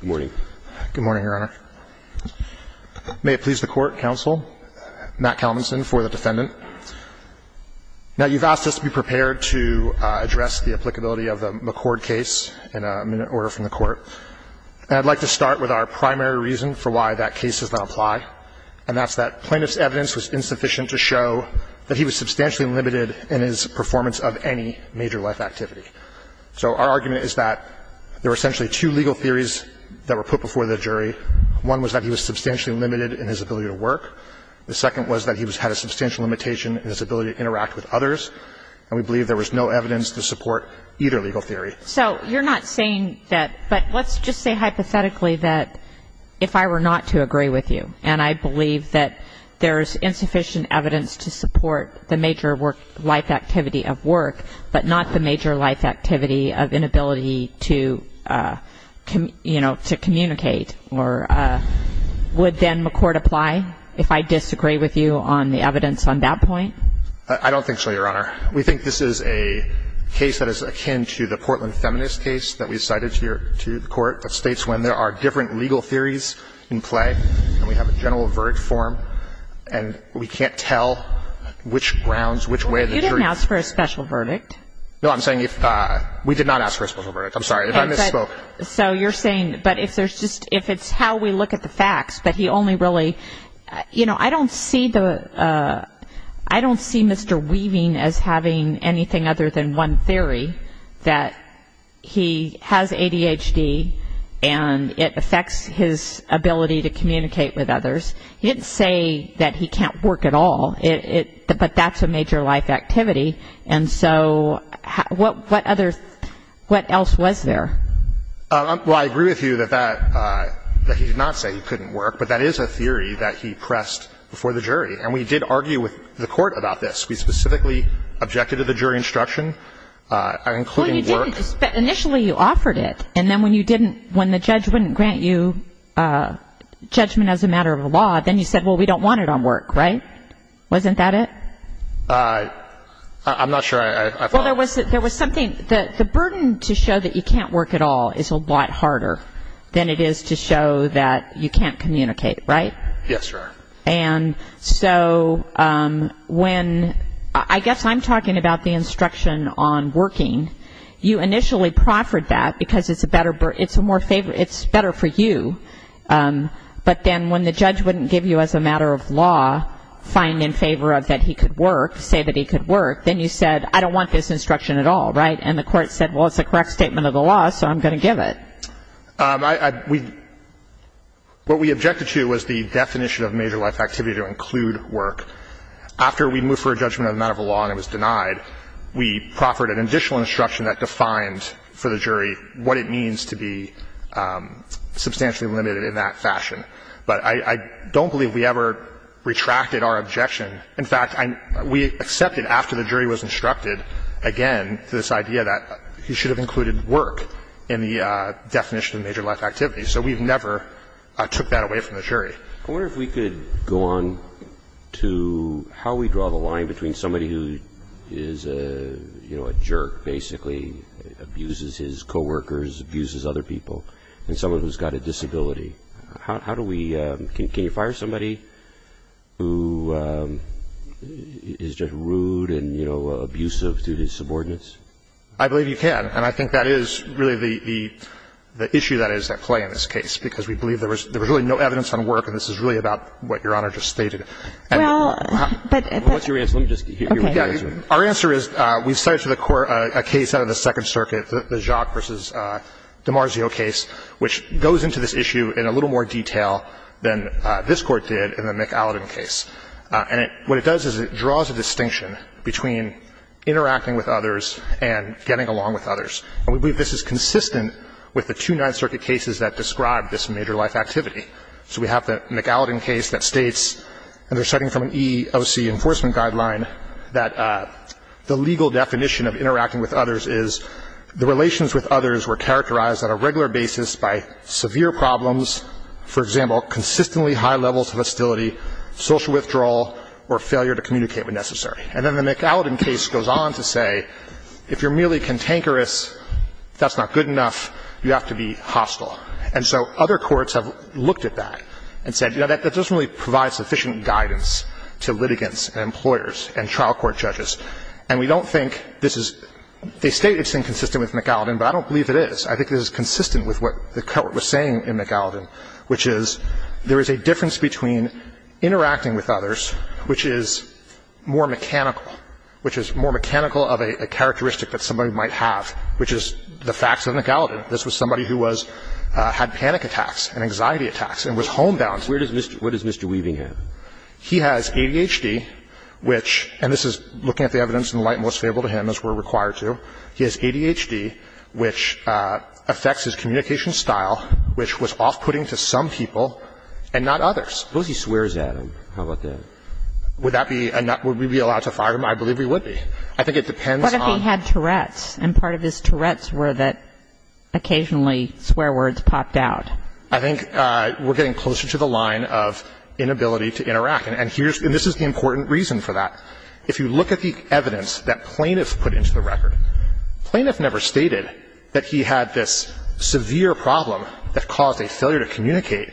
Good morning, Your Honor. May it please the Court, Counsel, Matt Calvinson for the defendant. Now, you've asked us to be prepared to address the applicability of the McCord case in a minute order from the Court. And I'd like to start with our primary reason for why that case does not apply, and that's that plaintiff's evidence was insufficient to show that he was substantially limited in his performance of any major life activity. So our argument is that there were essentially two legal theories that were put before the jury. One was that he was substantially limited in his ability to work. The second was that he had a substantial limitation in his ability to interact with others. And we believe there was no evidence to support either legal theory. So you're not saying that – but let's just say hypothetically that if I were not to agree with you, and I believe that there is insufficient evidence to support the major life activity of work, but not the major life activity of inability to, you know, to communicate, would then McCord apply, if I disagree with you on the evidence on that point? I don't think so, Your Honor. We think this is a case that is akin to the Portland Feminist case that we cited to the Court, that states when there are different legal theories in play, and we have a general verdict form, and we can't tell which grounds, which way the jury – You didn't ask for a special verdict. No, I'm saying if – we did not ask for a special verdict. I'm sorry, if I misspoke. So you're saying – but if there's just – if it's how we look at the facts, but he only really – you know, I don't see the – I don't see Mr. Weaving as having anything other than one theory, that he has ADHD and it affects his ability to communicate with others. He didn't say that he can't work at all, but that's a major life activity. And so what other – what else was there? Well, I agree with you that that – that he did not say he couldn't work, but that is a theory that he pressed before the jury. And we did argue with the Court about this. We specifically objected to the jury instruction, including work. Well, you didn't, but initially you offered it. And then when you didn't – when the judge wouldn't grant you judgment as a matter of law, then you said, well, we don't want it on work, right? Wasn't that it? I'm not sure I thought – Well, there was something – the burden to show that you can't work at all is a lot harder than it is to show that you can't communicate, right? Yes, Your Honor. And so when – I guess I'm talking about the instruction on working. You initially proffered that because it's a better – it's a more – it's better for you. But then when the judge wouldn't give you as a matter of law, find in favor of that he could work, say that he could work, then you said, I don't want this instruction at all, right? And the Court said, well, it's a correct statement of the law, so I'm going to give it. I – we – what we objected to was the definition of major life activity to include work. After we moved for a judgment as a matter of law and it was denied, we proffered an additional instruction that defined for the jury what it means to be substantially limited in that fashion. But I don't believe we ever retracted our objection. In fact, we accepted after the jury was instructed, again, this idea that he should have included work in the definition of major life activity. So we've never took that away from the jury. I wonder if we could go on to how we draw the line between somebody who is a, you know, a jerk basically, abuses his coworkers, abuses other people, and someone who's got a disability. How do we – can you fire somebody who is just rude and, you know, abusive to his subordinates? I believe you can. And I think that is really the issue that is at play in this case, because we believe there was really no evidence on work. And this is really about what Your Honor just stated. And how – Well, but – Well, what's your answer? Let me just hear what you're answering. Okay. Our answer is we cited to the Court a case out of the Second Circuit, the Jacques v. DiMarzio case, which goes into this issue in a little more detail than this Court did in the McAlladin case. And what it does is it draws a distinction between interacting with others and getting along with others. And we believe this is consistent with the two Ninth Circuit cases that describe this major life activity. So we have the McAlladin case that states, and they're citing from an EOC enforcement guideline, that the legal definition of interacting with others is the relations with others were characterized on a regular basis by severe problems, for example, consistently high levels of hostility, social withdrawal, or failure to communicate when necessary. And then the McAlladin case goes on to say, if you're merely cantankerous, that's not good enough, you have to be hostile. And so other courts have looked at that and said, you know, that doesn't really provide sufficient guidance to litigants and employers and trial court judges. And we don't think this is – they state it's inconsistent with McAlladin, but I don't believe it is. I think it is consistent with what the Court was saying in McAlladin, which is there is a difference between interacting with others, which is more mechanical, which is more mechanical of a characteristic that somebody might have, which is the facts of McAlladin. This was somebody who was – had panic attacks and anxiety attacks and was homebound. Where does Mr. Weaving have? He has ADHD, which – and this is looking at the evidence in the light most favorable to him, as we're required to. He has ADHD, which affects his communication style, which was off-putting to some people and not others. Suppose he swears at him. How about that? Would that be – would we be allowed to fire him? I believe we would be. I think it depends on – What if he had Tourette's and part of his Tourette's were that occasionally swear words popped out? I think we're getting closer to the line of inability to interact. And here's – and this is the important reason for that. If you look at the evidence that plaintiffs put into the record, plaintiffs never stated that he had this severe problem that caused a failure to communicate.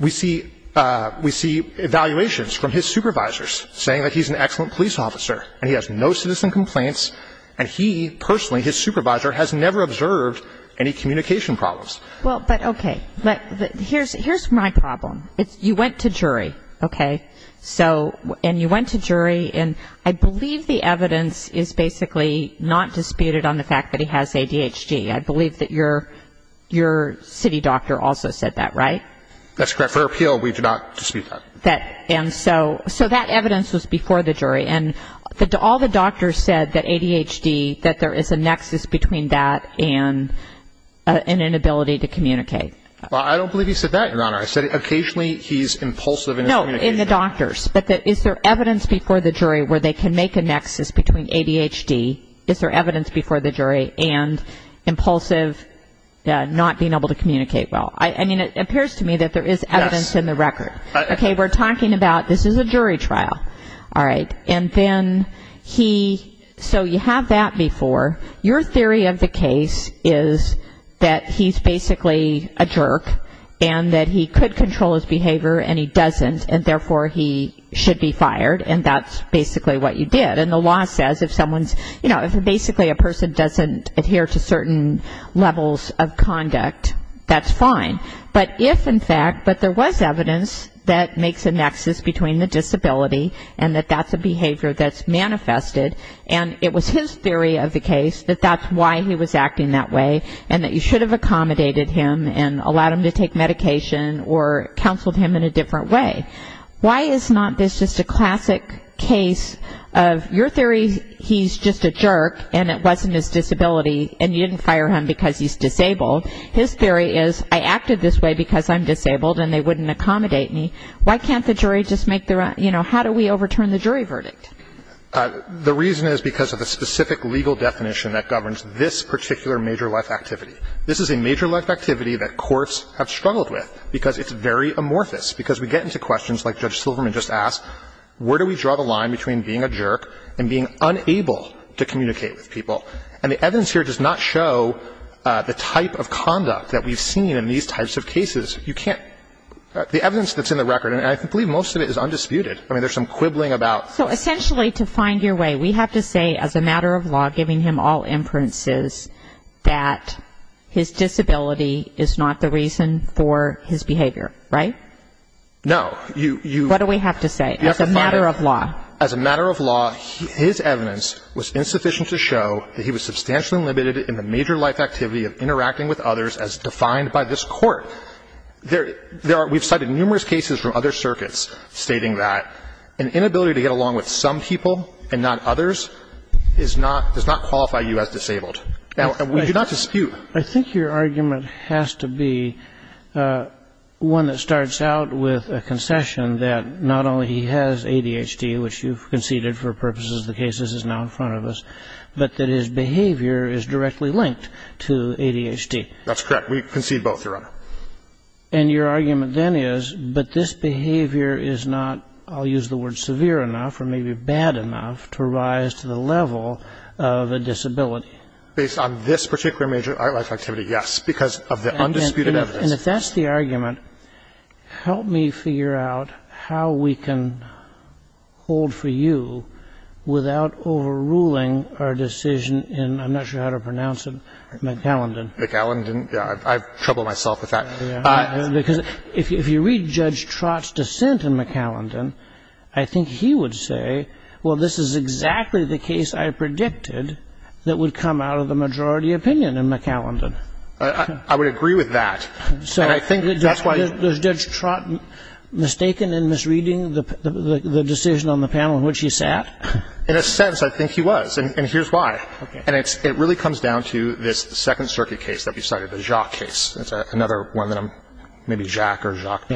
We see – we see evaluations from his supervisors saying that he's an excellent police officer and he has no citizen complaints, and he personally, his supervisor, has never observed any communication problems. Well, but okay. Here's my problem. You went to jury, okay? So – and you went to jury, and I believe the evidence is basically not disputed on the fact that he has ADHD. I believe that your city doctor also said that, right? That's correct. For appeal, we do not dispute that. And so that evidence was before the jury, and all the doctors said that ADHD, that there is a nexus between that and an inability to communicate. Well, I don't believe he said that, Your Honor. I said occasionally he's impulsive in his communication. Not in the doctors, but is there evidence before the jury where they can make a nexus between ADHD, is there evidence before the jury, and impulsive not being able to communicate well? I mean, it appears to me that there is evidence in the record. Okay, we're talking about this is a jury trial, all right? And then he – so you have that before. Your theory of the case is that he's basically a jerk and that he could control his behavior and he doesn't, and therefore he should be fired, and that's basically what you did. And the law says if someone's, you know, if basically a person doesn't adhere to certain levels of conduct, that's fine. But if, in fact, but there was evidence that makes a nexus between the disability and that that's a behavior that's manifested, and it was his theory of the case that that's why he was acting that way and that you should have accommodated him and allowed him to take medication or counseled him in a different way. Why is not this just a classic case of your theory he's just a jerk and it wasn't his disability and you didn't fire him because he's disabled? His theory is I acted this way because I'm disabled and they wouldn't accommodate me. Why can't the jury just make the – you know, how do we overturn the jury verdict? The reason is because of a specific legal definition that governs this particular major life activity. This is a major life activity that courts have struggled with because it's very amorphous, because we get into questions like Judge Silverman just asked, where do we draw the line between being a jerk and being unable to communicate with people? And the evidence here does not show the type of conduct that we've seen in these types of cases. You can't – the evidence that's in the record, and I believe most of it is undisputed. I mean, there's some quibbling about – So essentially to find your way, we have to say as a matter of law, giving him all inferences, that his disability is not the reason for his behavior, right? No. What do we have to say as a matter of law? As a matter of law, his evidence was insufficient to show that he was substantially limited in the major life activity of interacting with others as defined by this court. So there are – we've cited numerous cases from other circuits stating that an inability to get along with some people and not others is not – does not qualify you as disabled. And we do not dispute. I think your argument has to be one that starts out with a concession that not only he has ADHD, which you've conceded for purposes of the cases is now in front of us, but that his behavior is directly linked to ADHD. That's correct. We concede both, Your Honor. And your argument then is, but this behavior is not – I'll use the word severe enough or maybe bad enough to rise to the level of a disability. Based on this particular major life activity, yes, because of the undisputed evidence. And if that's the argument, help me figure out how we can hold for you without overruling our decision in – I'm not sure how to pronounce it – McAllendon. McAllendon. I've troubled myself with that. Because if you read Judge Trott's dissent in McAllendon, I think he would say, well, this is exactly the case I predicted that would come out of the majority opinion in McAllendon. I would agree with that. And I think that's why – So is Judge Trott mistaken in misreading the decision on the panel in which he sat? In a sense, I think he was. And here's why. Okay. And it really comes down to this Second Circuit case that we cited, the Jacques case. That's another one that I'm – maybe Jacques or Jacques.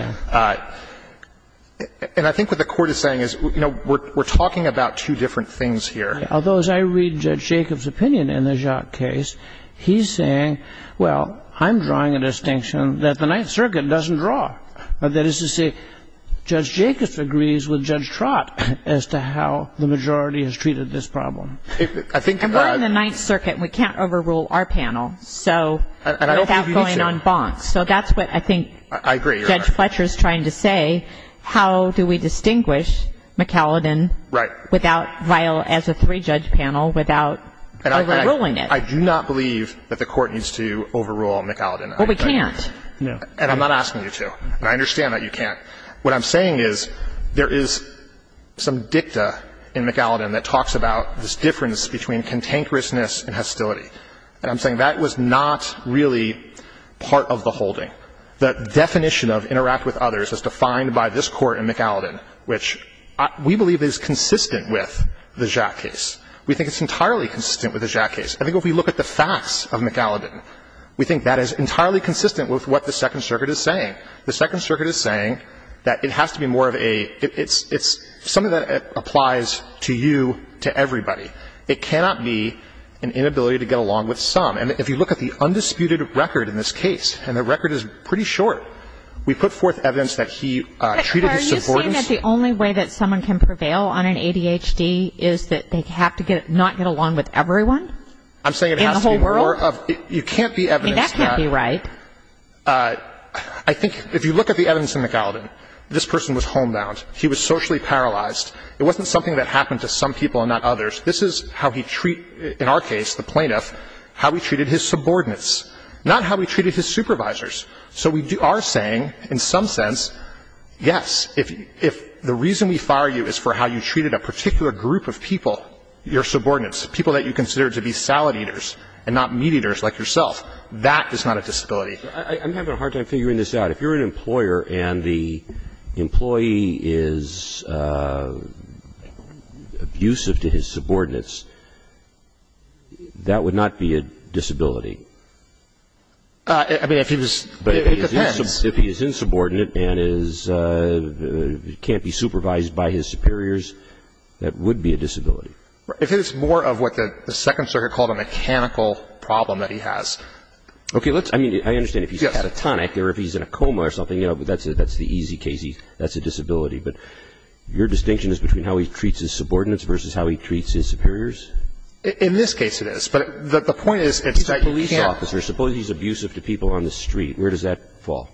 And I think what the Court is saying is, you know, we're talking about two different things here. Although as I read Judge Jacobs' opinion in the Jacques case, he's saying, well, I'm drawing a distinction that the Ninth Circuit doesn't draw. That is to say, Judge Jacobs agrees with Judge Trott as to how the majority has treated this problem. And we're in the Ninth Circuit, and we can't overrule our panel. So without going on bonks. So that's what I think Judge Fletcher is trying to say. How do we distinguish McAllendon as a three-judge panel without overruling it? I do not believe that the Court needs to overrule McAllendon. Well, we can't. And I'm not asking you to. And I understand that you can't. What I'm saying is there is some dicta in McAllendon that talks about this difference between cantankerousness and hostility. And I'm saying that was not really part of the holding. The definition of interact with others is defined by this Court in McAllendon, which we believe is consistent with the Jacques case. We think it's entirely consistent with the Jacques case. I think if we look at the facts of McAllendon, we think that is entirely consistent with what the Second Circuit is saying. The Second Circuit is saying that it has to be more of a – it's something that applies to you, to everybody. It cannot be an inability to get along with some. And if you look at the undisputed record in this case, and the record is pretty short, we put forth evidence that he treated his subordinates – But are you saying that the only way that someone can prevail on an ADHD is that they have to not get along with everyone in the whole world? I'm saying it has to be more of – you can't be evidence that – I mean, that can't be right. I think if you look at the evidence in McAllendon, this person was homebound. He was socially paralyzed. It wasn't something that happened to some people and not others. This is how he treat – in our case, the plaintiff, how he treated his subordinates, not how he treated his supervisors. So we are saying, in some sense, yes, if the reason we fire you is for how you treated a particular group of people, your subordinates, people that you consider to be salad That is not a disability. I'm having a hard time figuring this out. If you're an employer and the employee is abusive to his subordinates, that would not be a disability. I mean, if he was – it depends. But if he is insubordinate and can't be supervised by his superiors, that would be a disability. If it is more of what the Second Circuit called a mechanical problem that he has. Okay. Let's – I mean, I understand if he's catatonic or if he's in a coma or something, that's the easy case. That's a disability. But your distinction is between how he treats his subordinates versus how he treats his superiors? In this case, it is. But the point is – He's a police officer. Suppose he's abusive to people on the street. Where does that fall?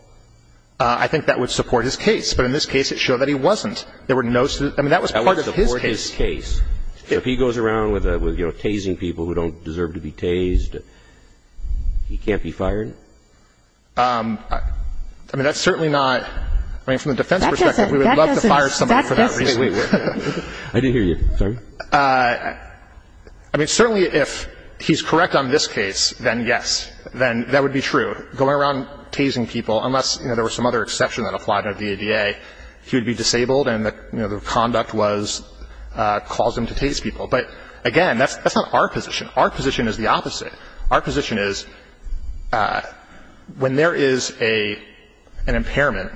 I think that would support his case. But in this case, it showed that he wasn't. There were no – I mean, that was part of his case. If he goes around with, you know, tasing people who don't deserve to be tased, he can't be fired? I mean, that's certainly not – I mean, from the defense perspective, we would love to fire somebody for that reason. I didn't hear you. Sorry. I mean, certainly if he's correct on this case, then yes. Then that would be true. Going around tasing people, unless, you know, there was some other exception that applied under the ADA, he would be disabled and, you know, the conduct was – caused him to tase people. But, again, that's not our position. Our position is the opposite. Our position is when there is an impairment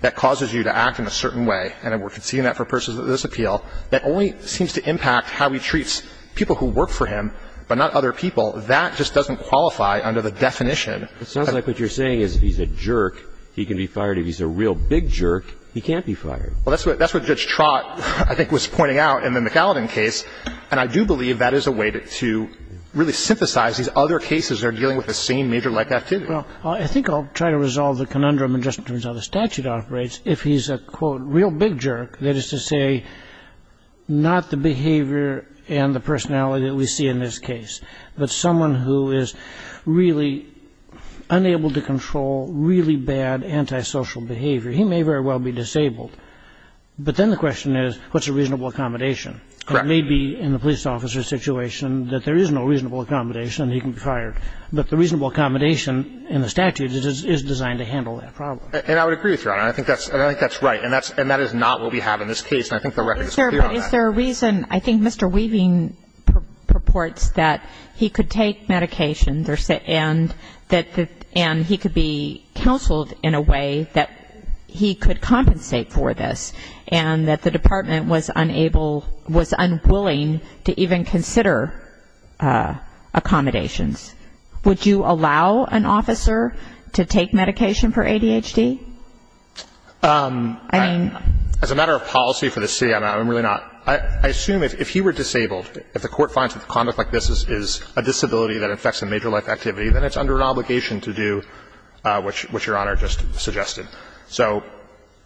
that causes you to act in a certain way, and we're seeing that for persons of this appeal, that only seems to impact how he treats people who work for him but not other people. That just doesn't qualify under the definition. It sounds like what you're saying is if he's a jerk, he can be fired. If he's a real big jerk, he can't be fired. Well, that's what Judge Trott, I think, was pointing out in the McAllen case, and I do believe that is a way to really synthesize these other cases that are dealing with the same major life activity. Well, I think I'll try to resolve the conundrum in just terms of how the statute operates. If he's a, quote, real big jerk, that is to say not the behavior and the personality that we see in this case, but someone who is really unable to control really bad antisocial behavior, he may very well be disabled. But then the question is, what's a reasonable accommodation? Correct. It may be in the police officer's situation that there is no reasonable accommodation and he can be fired. But the reasonable accommodation in the statute is designed to handle that problem. And I would agree with you on that. I think that's right. And that is not what we have in this case, and I think the record is clear on that. But is there a reason, I think Mr. Weaving purports that he could take medication and he could be counseled in a way that he could compensate for this, and that the department was unable, was unwilling to even consider accommodations. Would you allow an officer to take medication for ADHD? As a matter of policy for the city, I'm really not. I assume if he were disabled, if the court finds that conduct like this is a disability that affects a major life activity, then it's under an obligation to do what Your Honor just suggested. So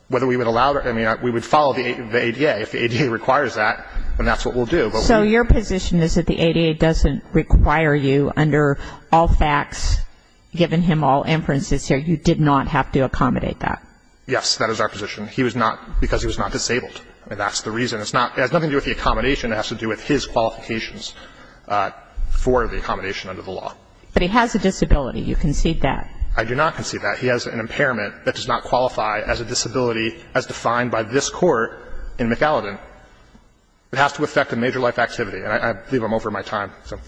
whether we would allow it, I mean, we would follow the ADA. If the ADA requires that, then that's what we'll do. So your position is that the ADA doesn't require you under all facts, given him all inferences here, you did not have to accommodate that? Yes, that is our position. He was not, because he was not disabled. I mean, that's the reason. It's not, it has nothing to do with the accommodation. It has to do with his qualifications for the accommodation under the law. But he has a disability. You concede that. I do not concede that. He has an impairment that does not qualify as a disability as defined by this Court in McAllen. It has to affect a major life activity. And I believe I'm over my time, so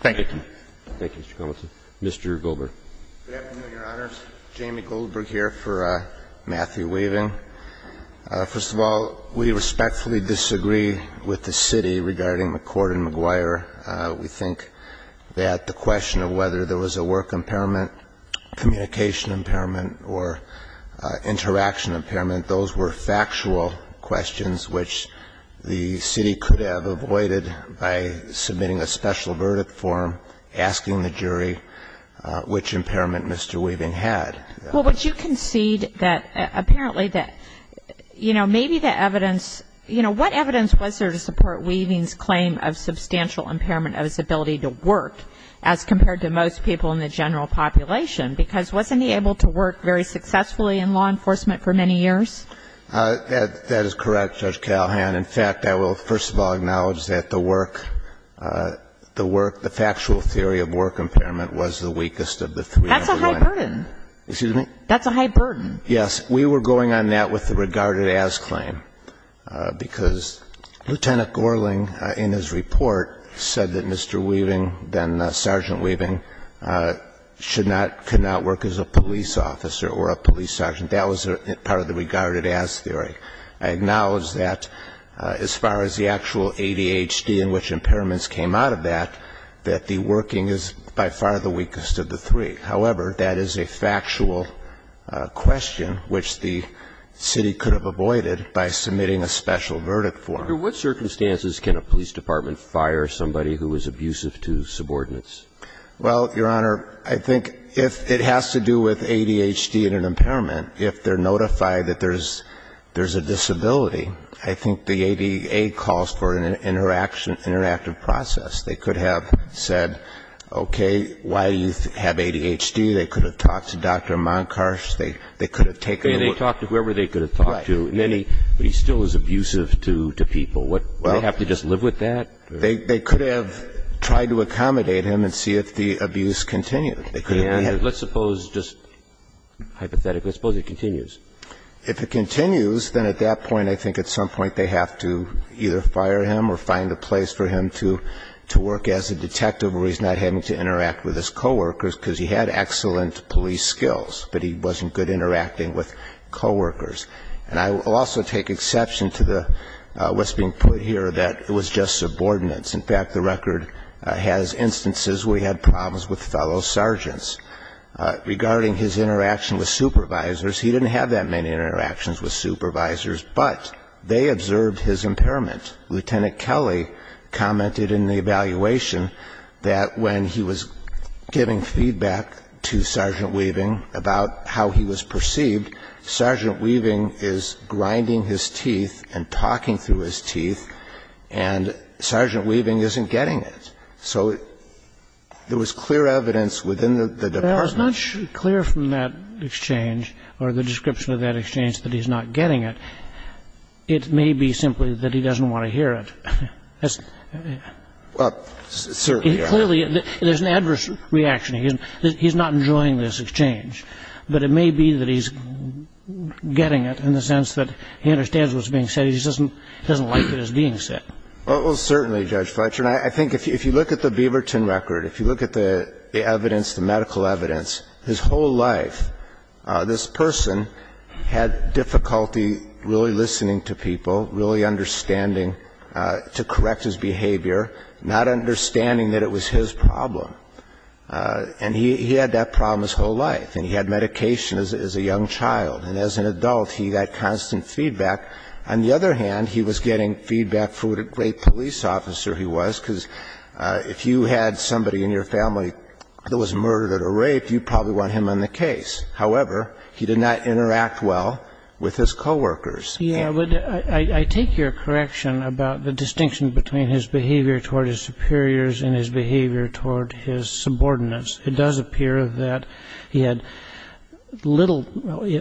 thank you. Thank you. Thank you, Mr. Compton. Mr. Goldberg. Good afternoon, Your Honors. Jamie Goldberg here for Matthew Weaving. First of all, we respectfully disagree with the City regarding McCord and McGuire. We think that the question of whether there was a work impairment, communication impairment, or interaction impairment, those were factual questions which the City could have avoided by submitting a special verdict form, asking the jury which impairment Mr. Weaving had. Well, would you concede that apparently that, you know, maybe the evidence you know, what evidence was there to support Weaving's claim of substantial impairment of his ability to work as compared to most people in the general population? Because wasn't he able to work very successfully in law enforcement for many years? That is correct, Judge Calhoun. And, in fact, I will first of all acknowledge that the work, the work, the factual theory of work impairment was the weakest of the three. That's a high burden. Excuse me? That's a high burden. Yes. We were going on that with the regarded as claim, because Lieutenant Gorling, in his report, said that Mr. Weaving, then Sergeant Weaving, should not, could not work as a police officer or a police sergeant. That was part of the regarded as theory. I acknowledge that as far as the actual ADHD and which impairments came out of that, that the working is by far the weakest of the three. However, that is a factual question which the city could have avoided by submitting a special verdict for him. Under what circumstances can a police department fire somebody who is abusive to subordinates? Well, Your Honor, I think if it has to do with ADHD and an impairment, if they're a disability, I think the ADA calls for an interaction, interactive process. They could have said, okay, why do you have ADHD? They could have talked to Dr. Monkhuis. They could have taken a look. They talked to whoever they could have talked to. Right. But he still is abusive to people. Well. Do they have to just live with that? They could have tried to accommodate him and see if the abuse continued. Let's suppose, just hypothetically, let's suppose it continues. If it continues, then at that point I think at some point they have to either fire him or find a place for him to work as a detective where he's not having to interact with his coworkers because he had excellent police skills, but he wasn't good interacting with coworkers. And I will also take exception to what's being put here that it was just subordinates. In fact, the record has instances where he had problems with fellow sergeants. Regarding his interaction with supervisors, he didn't have that many interactions with supervisors, but they observed his impairment. Lieutenant Kelly commented in the evaluation that when he was giving feedback to Sergeant Weaving about how he was perceived, Sergeant Weaving is grinding his teeth and talking through his teeth, and Sergeant Weaving isn't getting it. So there was clear evidence within the department. Well, it's not clear from that exchange or the description of that exchange that he's not getting it. It may be simply that he doesn't want to hear it. Well, certainly. Clearly, there's an adverse reaction. He's not enjoying this exchange. But it may be that he's getting it in the sense that he understands what's being said. He just doesn't like it as being said. Well, certainly, Judge Fletcher. And I think if you look at the Beaverton record, if you look at the evidence, the medical evidence, his whole life this person had difficulty really listening to people, really understanding to correct his behavior, not understanding that it was his problem. And he had that problem his whole life. And he had medication as a young child. And as an adult, he got constant feedback. On the other hand, he was getting feedback for what a great police officer he was, because if you had somebody in your family that was murdered or raped, you'd probably want him on the case. However, he did not interact well with his coworkers. Yeah. But I take your correction about the distinction between his behavior toward his superiors and his behavior toward his subordinates. It does appear that he had little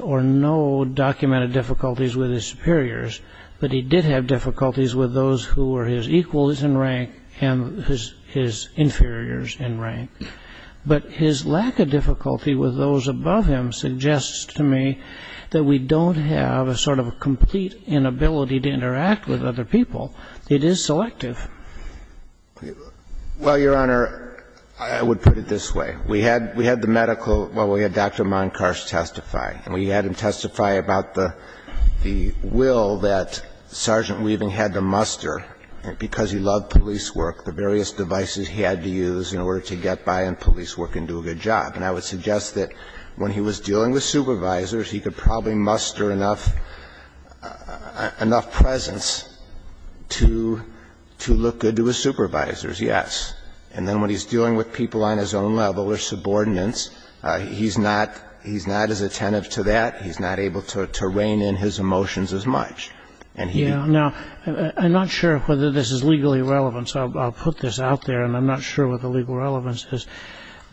or no documented difficulties with his superiors, but he did have difficulties with those who were his equals in rank and his inferiors in rank. But his lack of difficulty with those above him suggests to me that we don't have a sort of complete inability to interact with other people. It is selective. Well, Your Honor, I would put it this way. We had the medical – well, we had Dr. Monkosh testify. And we had him testify about the will that Sergeant Weaving had to muster because he loved police work, the various devices he had to use in order to get by in police work and do a good job. And I would suggest that when he was dealing with supervisors, he could probably muster enough presence to look good to his supervisors, yes. And then when he's dealing with people on his own level or subordinates, he's not as attentive to that. He's not able to rein in his emotions as much. Yeah. Now, I'm not sure whether this is legally relevant, so I'll put this out there. And I'm not sure what the legal relevance is.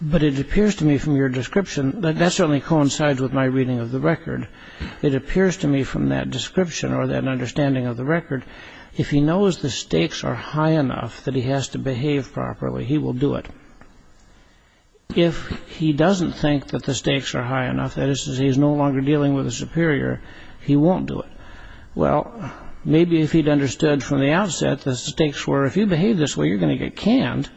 But it appears to me from your description that that certainly coincides with my reading of the record. It appears to me from that description or that understanding of the record, if he knows the stakes are high enough that he has to behave properly, he will do it. If he doesn't think that the stakes are high enough, that is, he's no longer dealing with a superior, he won't do it. Well, maybe if he'd understood from the outset the stakes were, if you behave this way, you're going to get canned,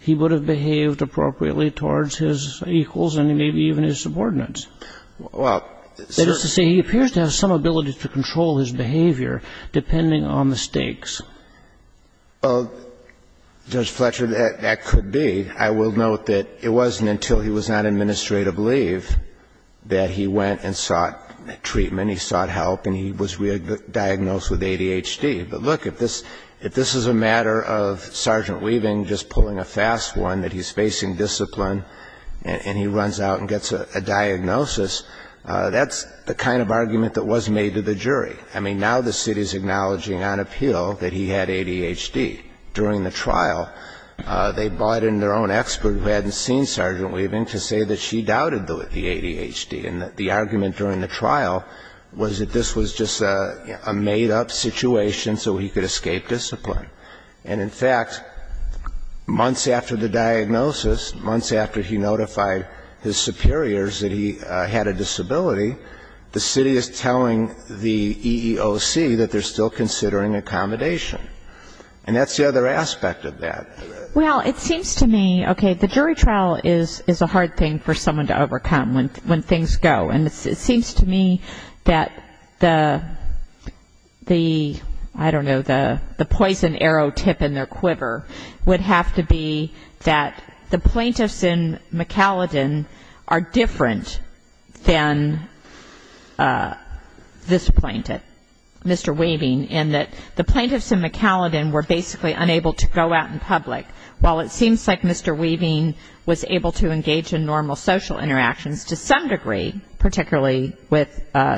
he would have behaved appropriately towards his equals and maybe even his subordinates. That is to say, he appears to have some ability to control his behavior depending on the stakes. Well, Judge Fletcher, that could be. I will note that it wasn't until he was on administrative leave that he went and sought treatment, he sought help, and he was diagnosed with ADHD. But, look, if this is a matter of Sergeant Weaving just pulling a fast one, that he runs out and gets a diagnosis, that's the kind of argument that was made to the jury. I mean, now the city is acknowledging on appeal that he had ADHD. During the trial, they brought in their own expert who hadn't seen Sergeant Weaving to say that she doubted the ADHD. And the argument during the trial was that this was just a made-up situation so he could escape discipline. And, in fact, months after the diagnosis, months after he notified his superiors that he had a disability, the city is telling the EEOC that they're still considering accommodation. And that's the other aspect of that. Well, it seems to me, okay, the jury trial is a hard thing for someone to overcome when things go. And it seems to me that the, I don't know, the poison arrow tip in their quiver would have to be that the plaintiffs in McAllen are different than this plaintiff, Mr. Weaving, in that the plaintiffs in McAllen were basically unable to go out in public. While it seems like Mr. Weaving was able to engage in normal social interactions to some degree, particularly with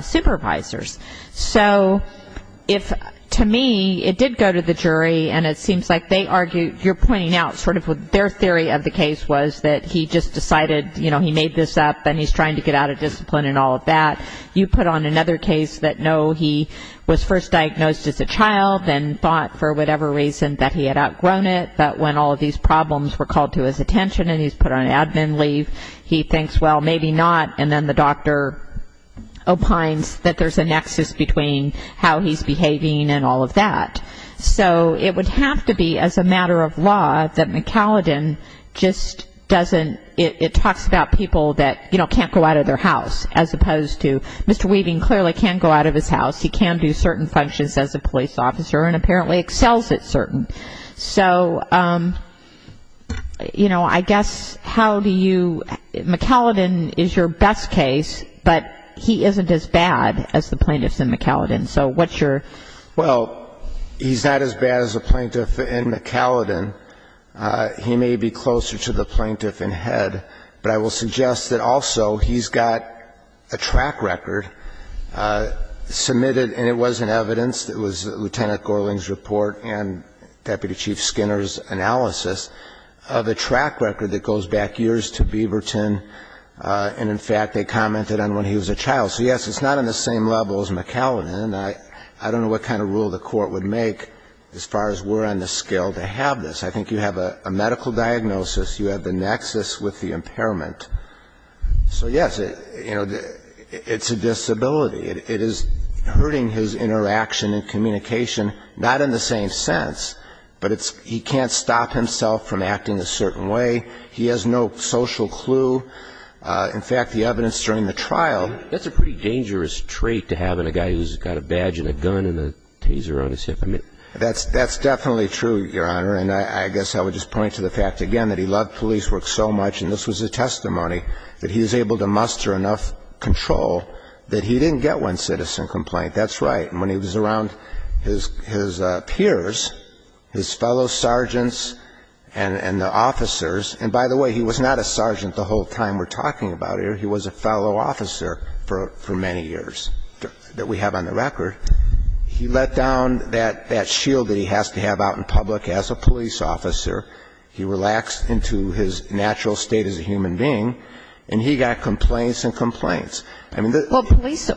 supervisors. So if, to me, it did go to the jury and it seems like they argue, you're pointing out sort of their theory of the case was that he just decided, you know, he made this up and he's trying to get out of discipline and all of that. You put on another case that, no, he was first diagnosed as a child and thought for whatever reason that he had outgrown it. But when all of these problems were called to his attention and he's put on admin leave, he thinks, well, maybe not. And then the doctor opines that there's a nexus between how he's behaving and all of that. So it would have to be as a matter of law that McAllen just doesn't, it talks about people that, you know, can't go out of their house, as opposed to Mr. Weaving clearly can't go out of his house. He can do certain functions as a police officer and apparently excels at certain. So, you know, I guess how do you, McAllen is your best case, but he isn't as bad as the plaintiffs in McAllen. So what's your? Well, he's not as bad as the plaintiff in McAllen. He may be closer to the plaintiff in head. But I will suggest that also he's got a track record submitted, and it wasn't evidence, it was Lieutenant Gorling's report and Deputy Chief Skinner's analysis of a track record that goes back years to Beaverton. And, in fact, they commented on when he was a child. So, yes, it's not on the same level as McAllen. And I don't know what kind of rule the court would make as far as we're on the scale to have this. I think you have a medical diagnosis. You have the nexus with the impairment. So, yes, you know, it's a disability. It is hurting his interaction and communication, not in the same sense. But he can't stop himself from acting a certain way. He has no social clue. In fact, the evidence during the trial. That's a pretty dangerous trait to have in a guy who's got a badge and a gun and a taser on his hip. That's definitely true, Your Honor. And I guess I would just point to the fact, again, that he loved police work so much, and this was a testimony, that he was able to muster enough control that he didn't get one citizen complaint. That's right. And when he was around his peers, his fellow sergeants and the officers, and, by the way, he was not a sergeant the whole time we're talking about here. He was a fellow officer for many years that we have on the record. He let down that shield that he has to have out in public as a police officer. He relaxed into his natural state as a human being. And he got complaints and complaints. Well, police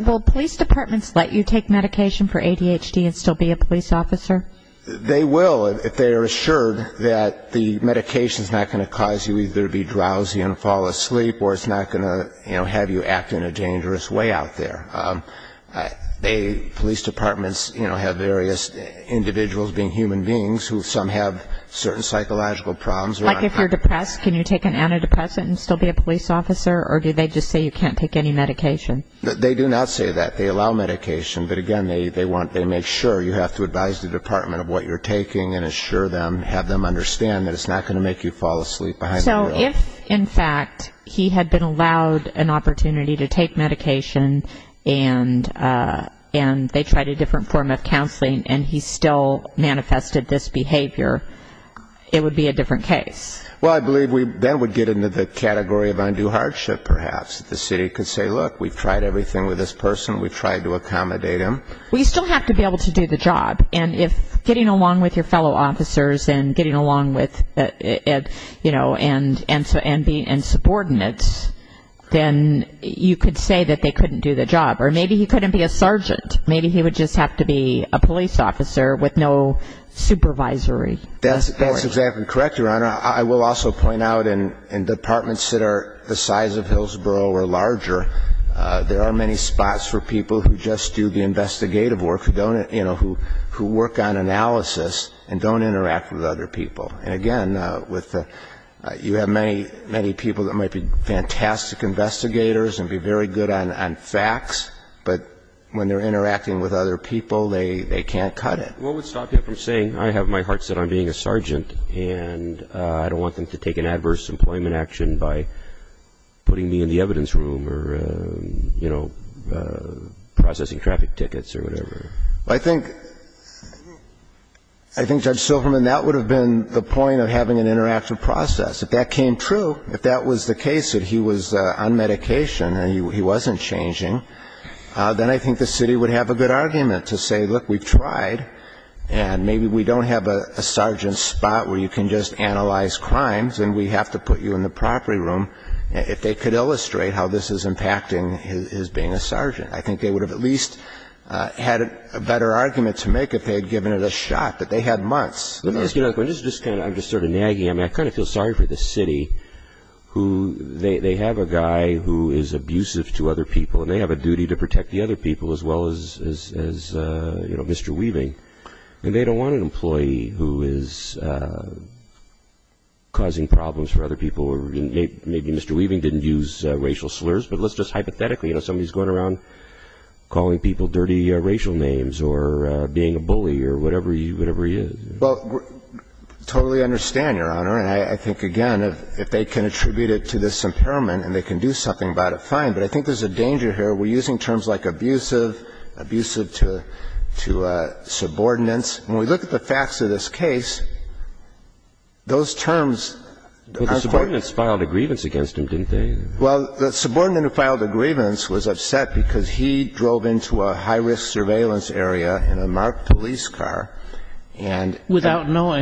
departments let you take medication for ADHD and still be a police officer? They will, if they are assured that the medication is not going to cause you either to be drowsy and fall asleep or it's not going to, you know, have you act in a dangerous way out there. They, police departments, you know, have various individuals being human beings who some have certain psychological problems. Like if you're depressed, can you take an antidepressant and still be a police officer, or do they just say you can't take any medication? They do not say that. They allow medication. But, again, they make sure you have to advise the department of what you're taking and assure them, have them understand that it's not going to make you fall asleep behind the wheel. So if, in fact, he had been allowed an opportunity to take medication and they tried a different form of counseling and he still manifested this behavior, it would be a different case? Well, I believe that would get into the category of undue hardship, perhaps, that the city could say, look, we've tried everything with this person. We've tried to accommodate him. Well, you still have to be able to do the job. And if getting along with your fellow officers and getting along with, you know, your fellow officers and being subordinates, then you could say that they couldn't do the job. Or maybe he couldn't be a sergeant. Maybe he would just have to be a police officer with no supervisory. That's exactly correct, Your Honor. I will also point out in departments that are the size of Hillsborough or larger, there are many spots for people who just do the investigative work, you know, who work on analysis and don't interact with other people. And, again, with the you have many, many people that might be fantastic investigators and be very good on facts, but when they're interacting with other people, they can't cut it. What would stop you from saying, I have my heart set on being a sergeant and I don't want them to take an adverse employment action by putting me in the evidence room or, you know, processing traffic tickets or whatever? Well, I think, Judge Silverman, that would have been the place to go. If that came true, if that was the case that he was on medication and he wasn't changing, then I think the city would have a good argument to say, look, we've tried and maybe we don't have a sergeant spot where you can just analyze crimes and we have to put you in the property room if they could illustrate how this is impacting his being a sergeant. I think they would have at least had a better argument to make if they had given it a shot, but they had months. Let me ask you a question. I'm just sort of nagging. I mean, I kind of feel sorry for the city who they have a guy who is abusive to other people and they have a duty to protect the other people as well as, you know, Mr. Weaving, and they don't want an employee who is causing problems for other people. Maybe Mr. Weaving didn't use racial slurs, but let's just hypothetically, you know, somebody's going around calling people dirty racial names or being a bully or whatever he is. Well, I totally understand, Your Honor, and I think, again, if they can attribute it to this impairment and they can do something about it, fine, but I think there's a danger here. We're using terms like abusive, abusive to subordinates. When we look at the facts of this case, those terms are quite the opposite. But the subordinates filed a grievance against him, didn't they? Well, the subordinate who filed a grievance was upset because he drove into a high school,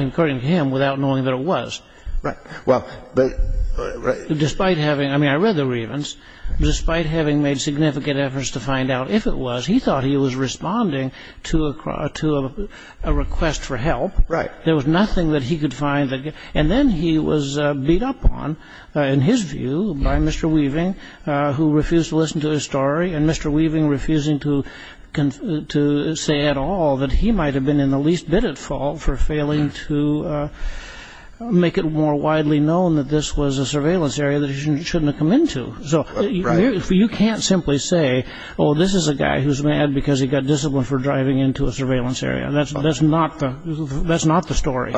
according to him, without knowing that it was. Right. Well, but... Despite having, I mean, I read the grievance, despite having made significant efforts to find out if it was, he thought he was responding to a request for help. Right. There was nothing that he could find. And then he was beat up on, in his view, by Mr. Weaving, who refused to listen to his story, and Mr. Weaving refusing to say at all that he might have been in trouble for failing to make it more widely known that this was a surveillance area that he shouldn't have come into. Right. So you can't simply say, oh, this is a guy who's mad because he got disciplined for driving into a surveillance area. That's not the story.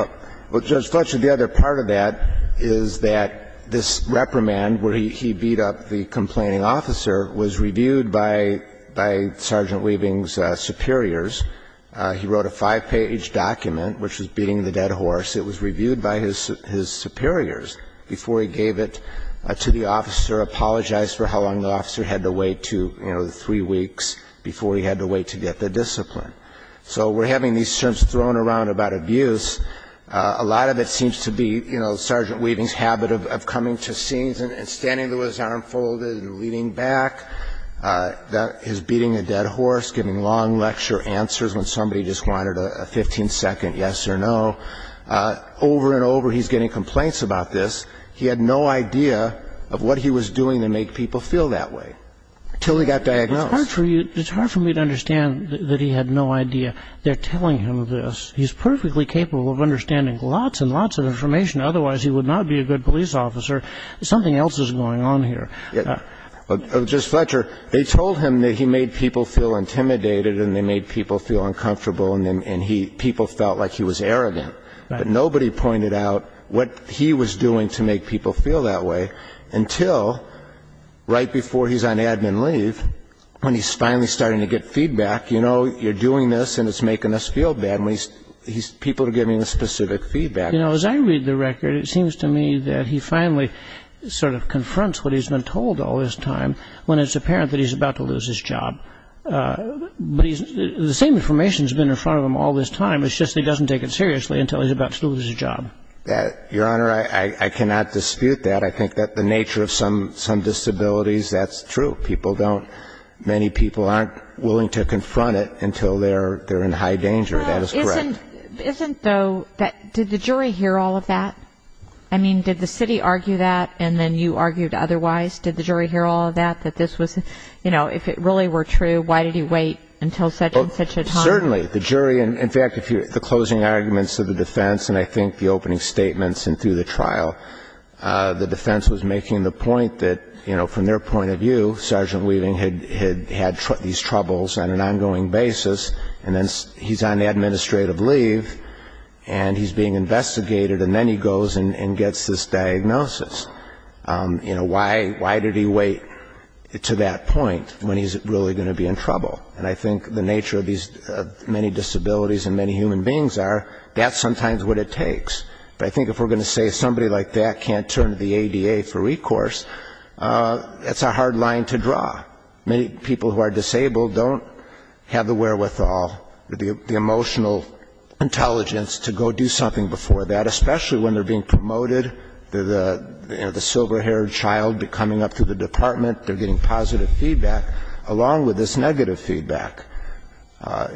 Well, Judge Fletcher, the other part of that is that this reprimand where he beat up the complaining officer was reviewed by Sergeant Weaving's superiors. He wrote a five-page document which was beating the dead horse. It was reviewed by his superiors before he gave it to the officer, apologized for how long the officer had to wait to, you know, the three weeks before he had to wait to get the discipline. So we're having these terms thrown around about abuse. A lot of it seems to be, you know, Sergeant Weaving's habit of coming to scenes and standing with his arm folded and leaning back. That is beating a dead horse, giving long lecture answers when somebody just wanted a 15-second yes or no. Over and over, he's getting complaints about this. He had no idea of what he was doing to make people feel that way until he got diagnosed. It's hard for me to understand that he had no idea they're telling him this. He's perfectly capable of understanding lots and lots of information. Otherwise, he would not be a good police officer. Something else is going on here. Judge Fletcher, they told him that he made people feel intimidated and they made people feel uncomfortable and people felt like he was arrogant. But nobody pointed out what he was doing to make people feel that way until right before he's on admin leave, when he's finally starting to get feedback, you know, you're doing this and it's making us feel bad. People are giving him specific feedback. You know, as I read the record, it seems to me that he finally sort of confronts what he's been told all this time when it's apparent that he's about to lose his job. But the same information has been in front of him all this time. It's just he doesn't take it seriously until he's about to lose his job. Your Honor, I cannot dispute that. I think that the nature of some disabilities, that's true. People don't, many people aren't willing to confront it until they're in high danger. That is correct. Isn't, though, did the jury hear all of that? I mean, did the city argue that and then you argued otherwise? Did the jury hear all of that, that this was, you know, if it really were true, why did he wait until such and such a time? Certainly, the jury, in fact, the closing arguments of the defense and I think the opening statements and through the trial, the defense was making the point that, you know, from their point of view, Sergeant Weaving had had these troubles on an ongoing basis and then he's on administrative leave and he's being investigated and then he goes and gets this diagnosis. You know, why did he wait to that point when he's really going to be in trouble? And I think the nature of these many disabilities and many human beings are, that's sometimes what it takes. But I think if we're going to say somebody like that can't turn to the ADA for recourse, that's a hard line to draw. Many people who are disabled don't have the wherewithal, the emotional intelligence to go do something before that, especially when they're being promoted, the silver-haired child coming up to the department, they're getting positive feedback, along with this negative feedback.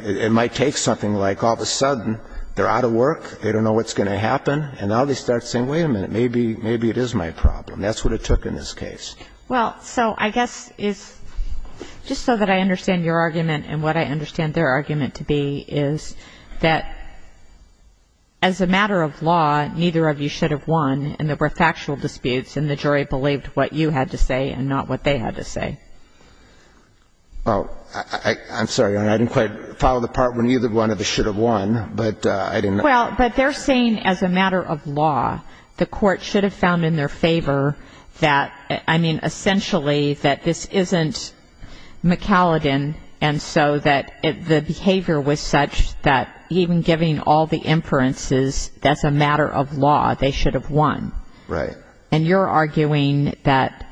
It might take something like all of a sudden they're out of work, they don't know what's going to happen, and now they start saying, wait a minute, maybe it is my problem. That's what it took in this case. Well, so I guess it's just so that I understand your argument and what I understand their argument to be is that as a matter of law, neither of you should have won, and there were factual disputes and the jury believed what you had to say and not what they had to say. Oh, I'm sorry, Your Honor. I didn't quite follow the part where neither one of us should have won, but I didn't know. Well, but they're saying as a matter of law the court should have found in their favor that, I mean, essentially that this isn't McCallaghan, and so that the behavior was such that even giving all the inferences, as a matter of law, they should have won. Right. And you're arguing that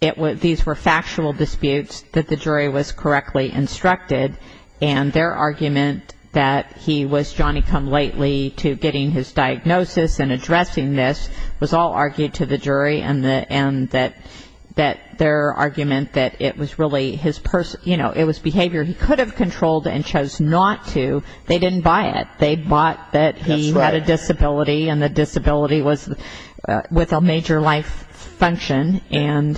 these were factual disputes, that the jury was correctly instructed, and their argument that he was Johnny-come-lately to getting his diagnosis and addressing this was all argued to the jury, and that their argument that it was really his personal, you know, it was behavior he could have controlled and chose not to. They didn't buy it. That's right. They bought that he had a disability, and the disability was with a major life function.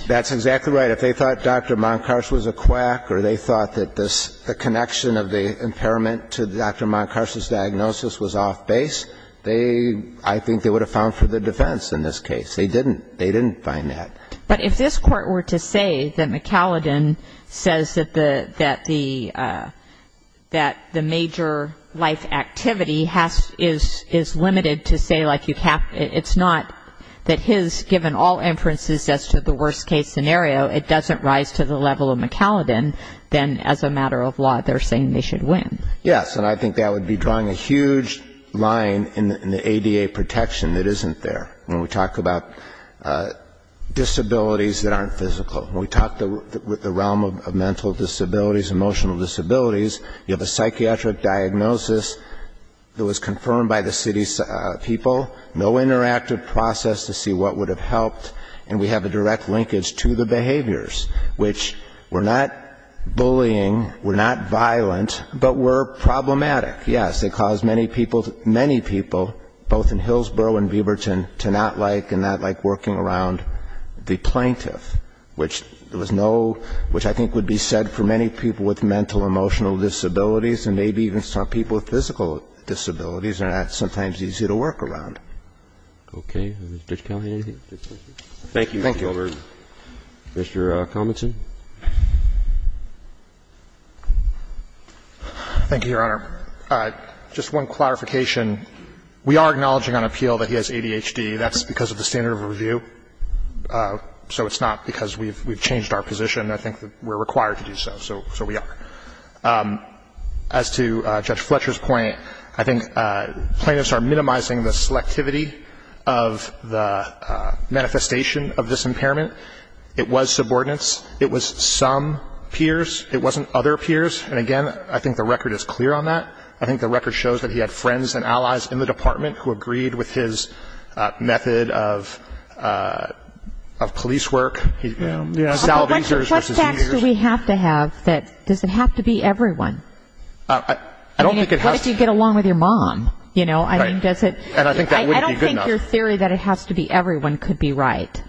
That's exactly right. If they thought Dr. Moncarch was a quack or they thought that the connection of the impairment to Dr. Moncarch's diagnosis was off base, I think they would have found for the defense in this case. They didn't. They didn't find that. But if this Court were to say that McCallaghan says that the major life activity is limited to say, like, it's not that his, given all inferences as to the worst-case scenario, it doesn't rise to the level of McCallaghan, then as a matter of law they're saying they should win. Yes, and I think that would be drawing a huge line in the ADA protection that isn't there when we talk about disabilities that aren't physical. When we talk the realm of mental disabilities, emotional disabilities, you have a psychiatric diagnosis that was confirmed by the city's people, no interactive process to see what would have helped, and we have a direct linkage to the behaviors, which were not bullying, were not violent, but were problematic. Yes. It caused many people, many people, both in Hillsborough and Beaverton, to not like and not like working around the plaintiff, which there was no ‑‑ which I think would be said for many people with mental, emotional disabilities and maybe even some people with physical disabilities are not sometimes easy to work around. Okay. Is Judge Callahan in here? Thank you, Mr. Gilbert. Thank you. Mr. Cominson. Thank you, Your Honor. Just one clarification. We are acknowledging on appeal that he has ADHD. That's because of the standard of review, so it's not because we've changed our position. I think that we're required to do so, so we are. As to Judge Fletcher's point, I think plaintiffs are minimizing the selectivity of the manifestation of this impairment. It was subordinates. It was some peers. It wasn't other peers. And, again, I think the record is clear on that. I think the record shows that he had friends and allies in the department who agreed with his method of police work. You know, salvezers versus easers. What sort of trust facts do we have to have that ‑‑ does it have to be everyone? I don't think it has to be. I mean, what if you get along with your mom, you know? Right. I mean, does it ‑‑ And I think that wouldn't be good enough. I don't think your theory that it has to be everyone could be right.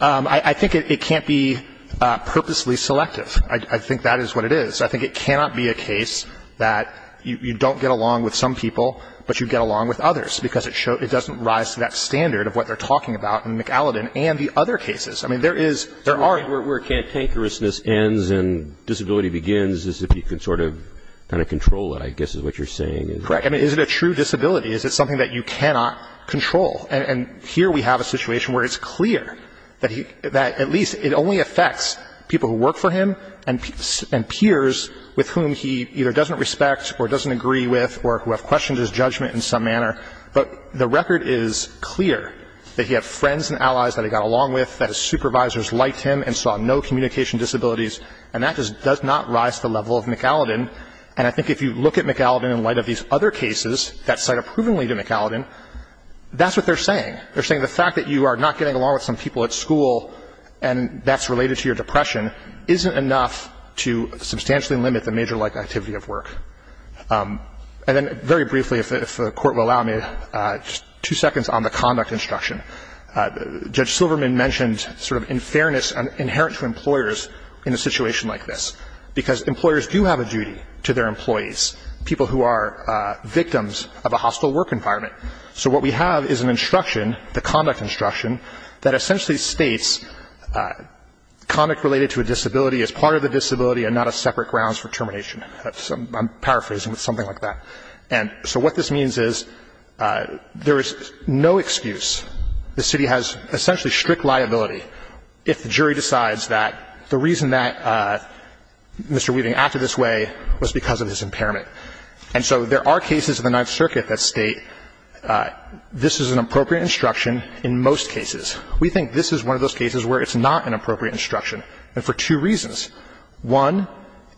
I think it can't be purposely selective. I think that is what it is. I think it cannot be a case that you don't get along with some people, but you get along with others because it doesn't rise to that standard of what they're talking about in McAlladin and the other cases. I mean, there is ‑‑ Where cantankerousness ends and disability begins is if you can sort of kind of control it, I guess is what you're saying. Correct. I mean, is it a true disability? Is it something that you cannot control? And here we have a situation where it's clear that at least it only affects people who work for him and peers with whom he either doesn't respect or doesn't agree with or who have questioned his judgment in some manner. But the record is clear that he had friends and allies that he got along with, that his supervisors liked him and saw no communication disabilities, and that just does not rise to the level of McAlladin. And I think if you look at McAlladin in light of these other cases that cite approvingly McAlladin, that's what they're saying. They're saying the fact that you are not getting along with some people at school and that's related to your depression isn't enough to substantially limit the major-like activity of work. And then very briefly, if the Court will allow me, just two seconds on the conduct instruction. Judge Silverman mentioned sort of unfairness inherent to employers in a situation like this, because employers do have a duty to their employees, people who are victims of a hostile work environment. So what we have is an instruction, the conduct instruction, that essentially states conduct related to a disability is part of the disability and not a separate grounds for termination. I'm paraphrasing, but something like that. And so what this means is there is no excuse. The city has essentially strict liability if the jury decides that the reason that Mr. Weaving acted this way was because of his impairment. And so there are cases in the Ninth Circuit that state this is an appropriate instruction in most cases. We think this is one of those cases where it's not an appropriate instruction and for two reasons. One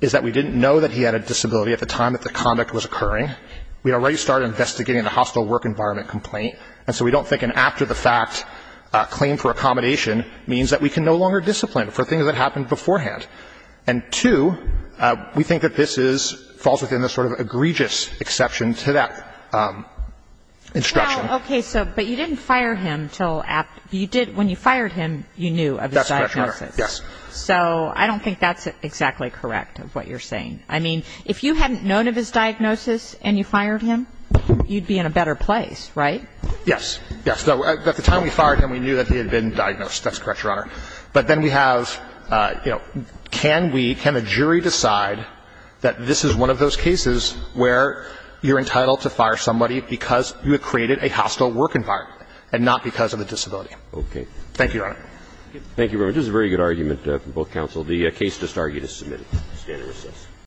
is that we didn't know that he had a disability at the time that the conduct was occurring. We already started investigating the hostile work environment complaint, and so we don't think an after-the-fact claim for accommodation means that we can no longer discipline him for things that happened beforehand. And two, we think that this is – falls within the sort of egregious exception to that instruction. Well, okay. So, but you didn't fire him until after – you did – when you fired him, you knew of his diagnosis. That's correct, Your Honor. Yes. So I don't think that's exactly correct of what you're saying. I mean, if you hadn't known of his diagnosis and you fired him, you'd be in a better place, right? Yes. Yes. At the time we fired him, we knew that he had been diagnosed. That's correct, Your Honor. But then we have, you know, can we – can a jury decide that this is one of those cases where you're entitled to fire somebody because you have created a hostile work environment and not because of a disability? Okay. Thank you, Your Honor. Thank you, Robert. This is a very good argument from both counsel. The case does start. You just submit it. The stand is recessed.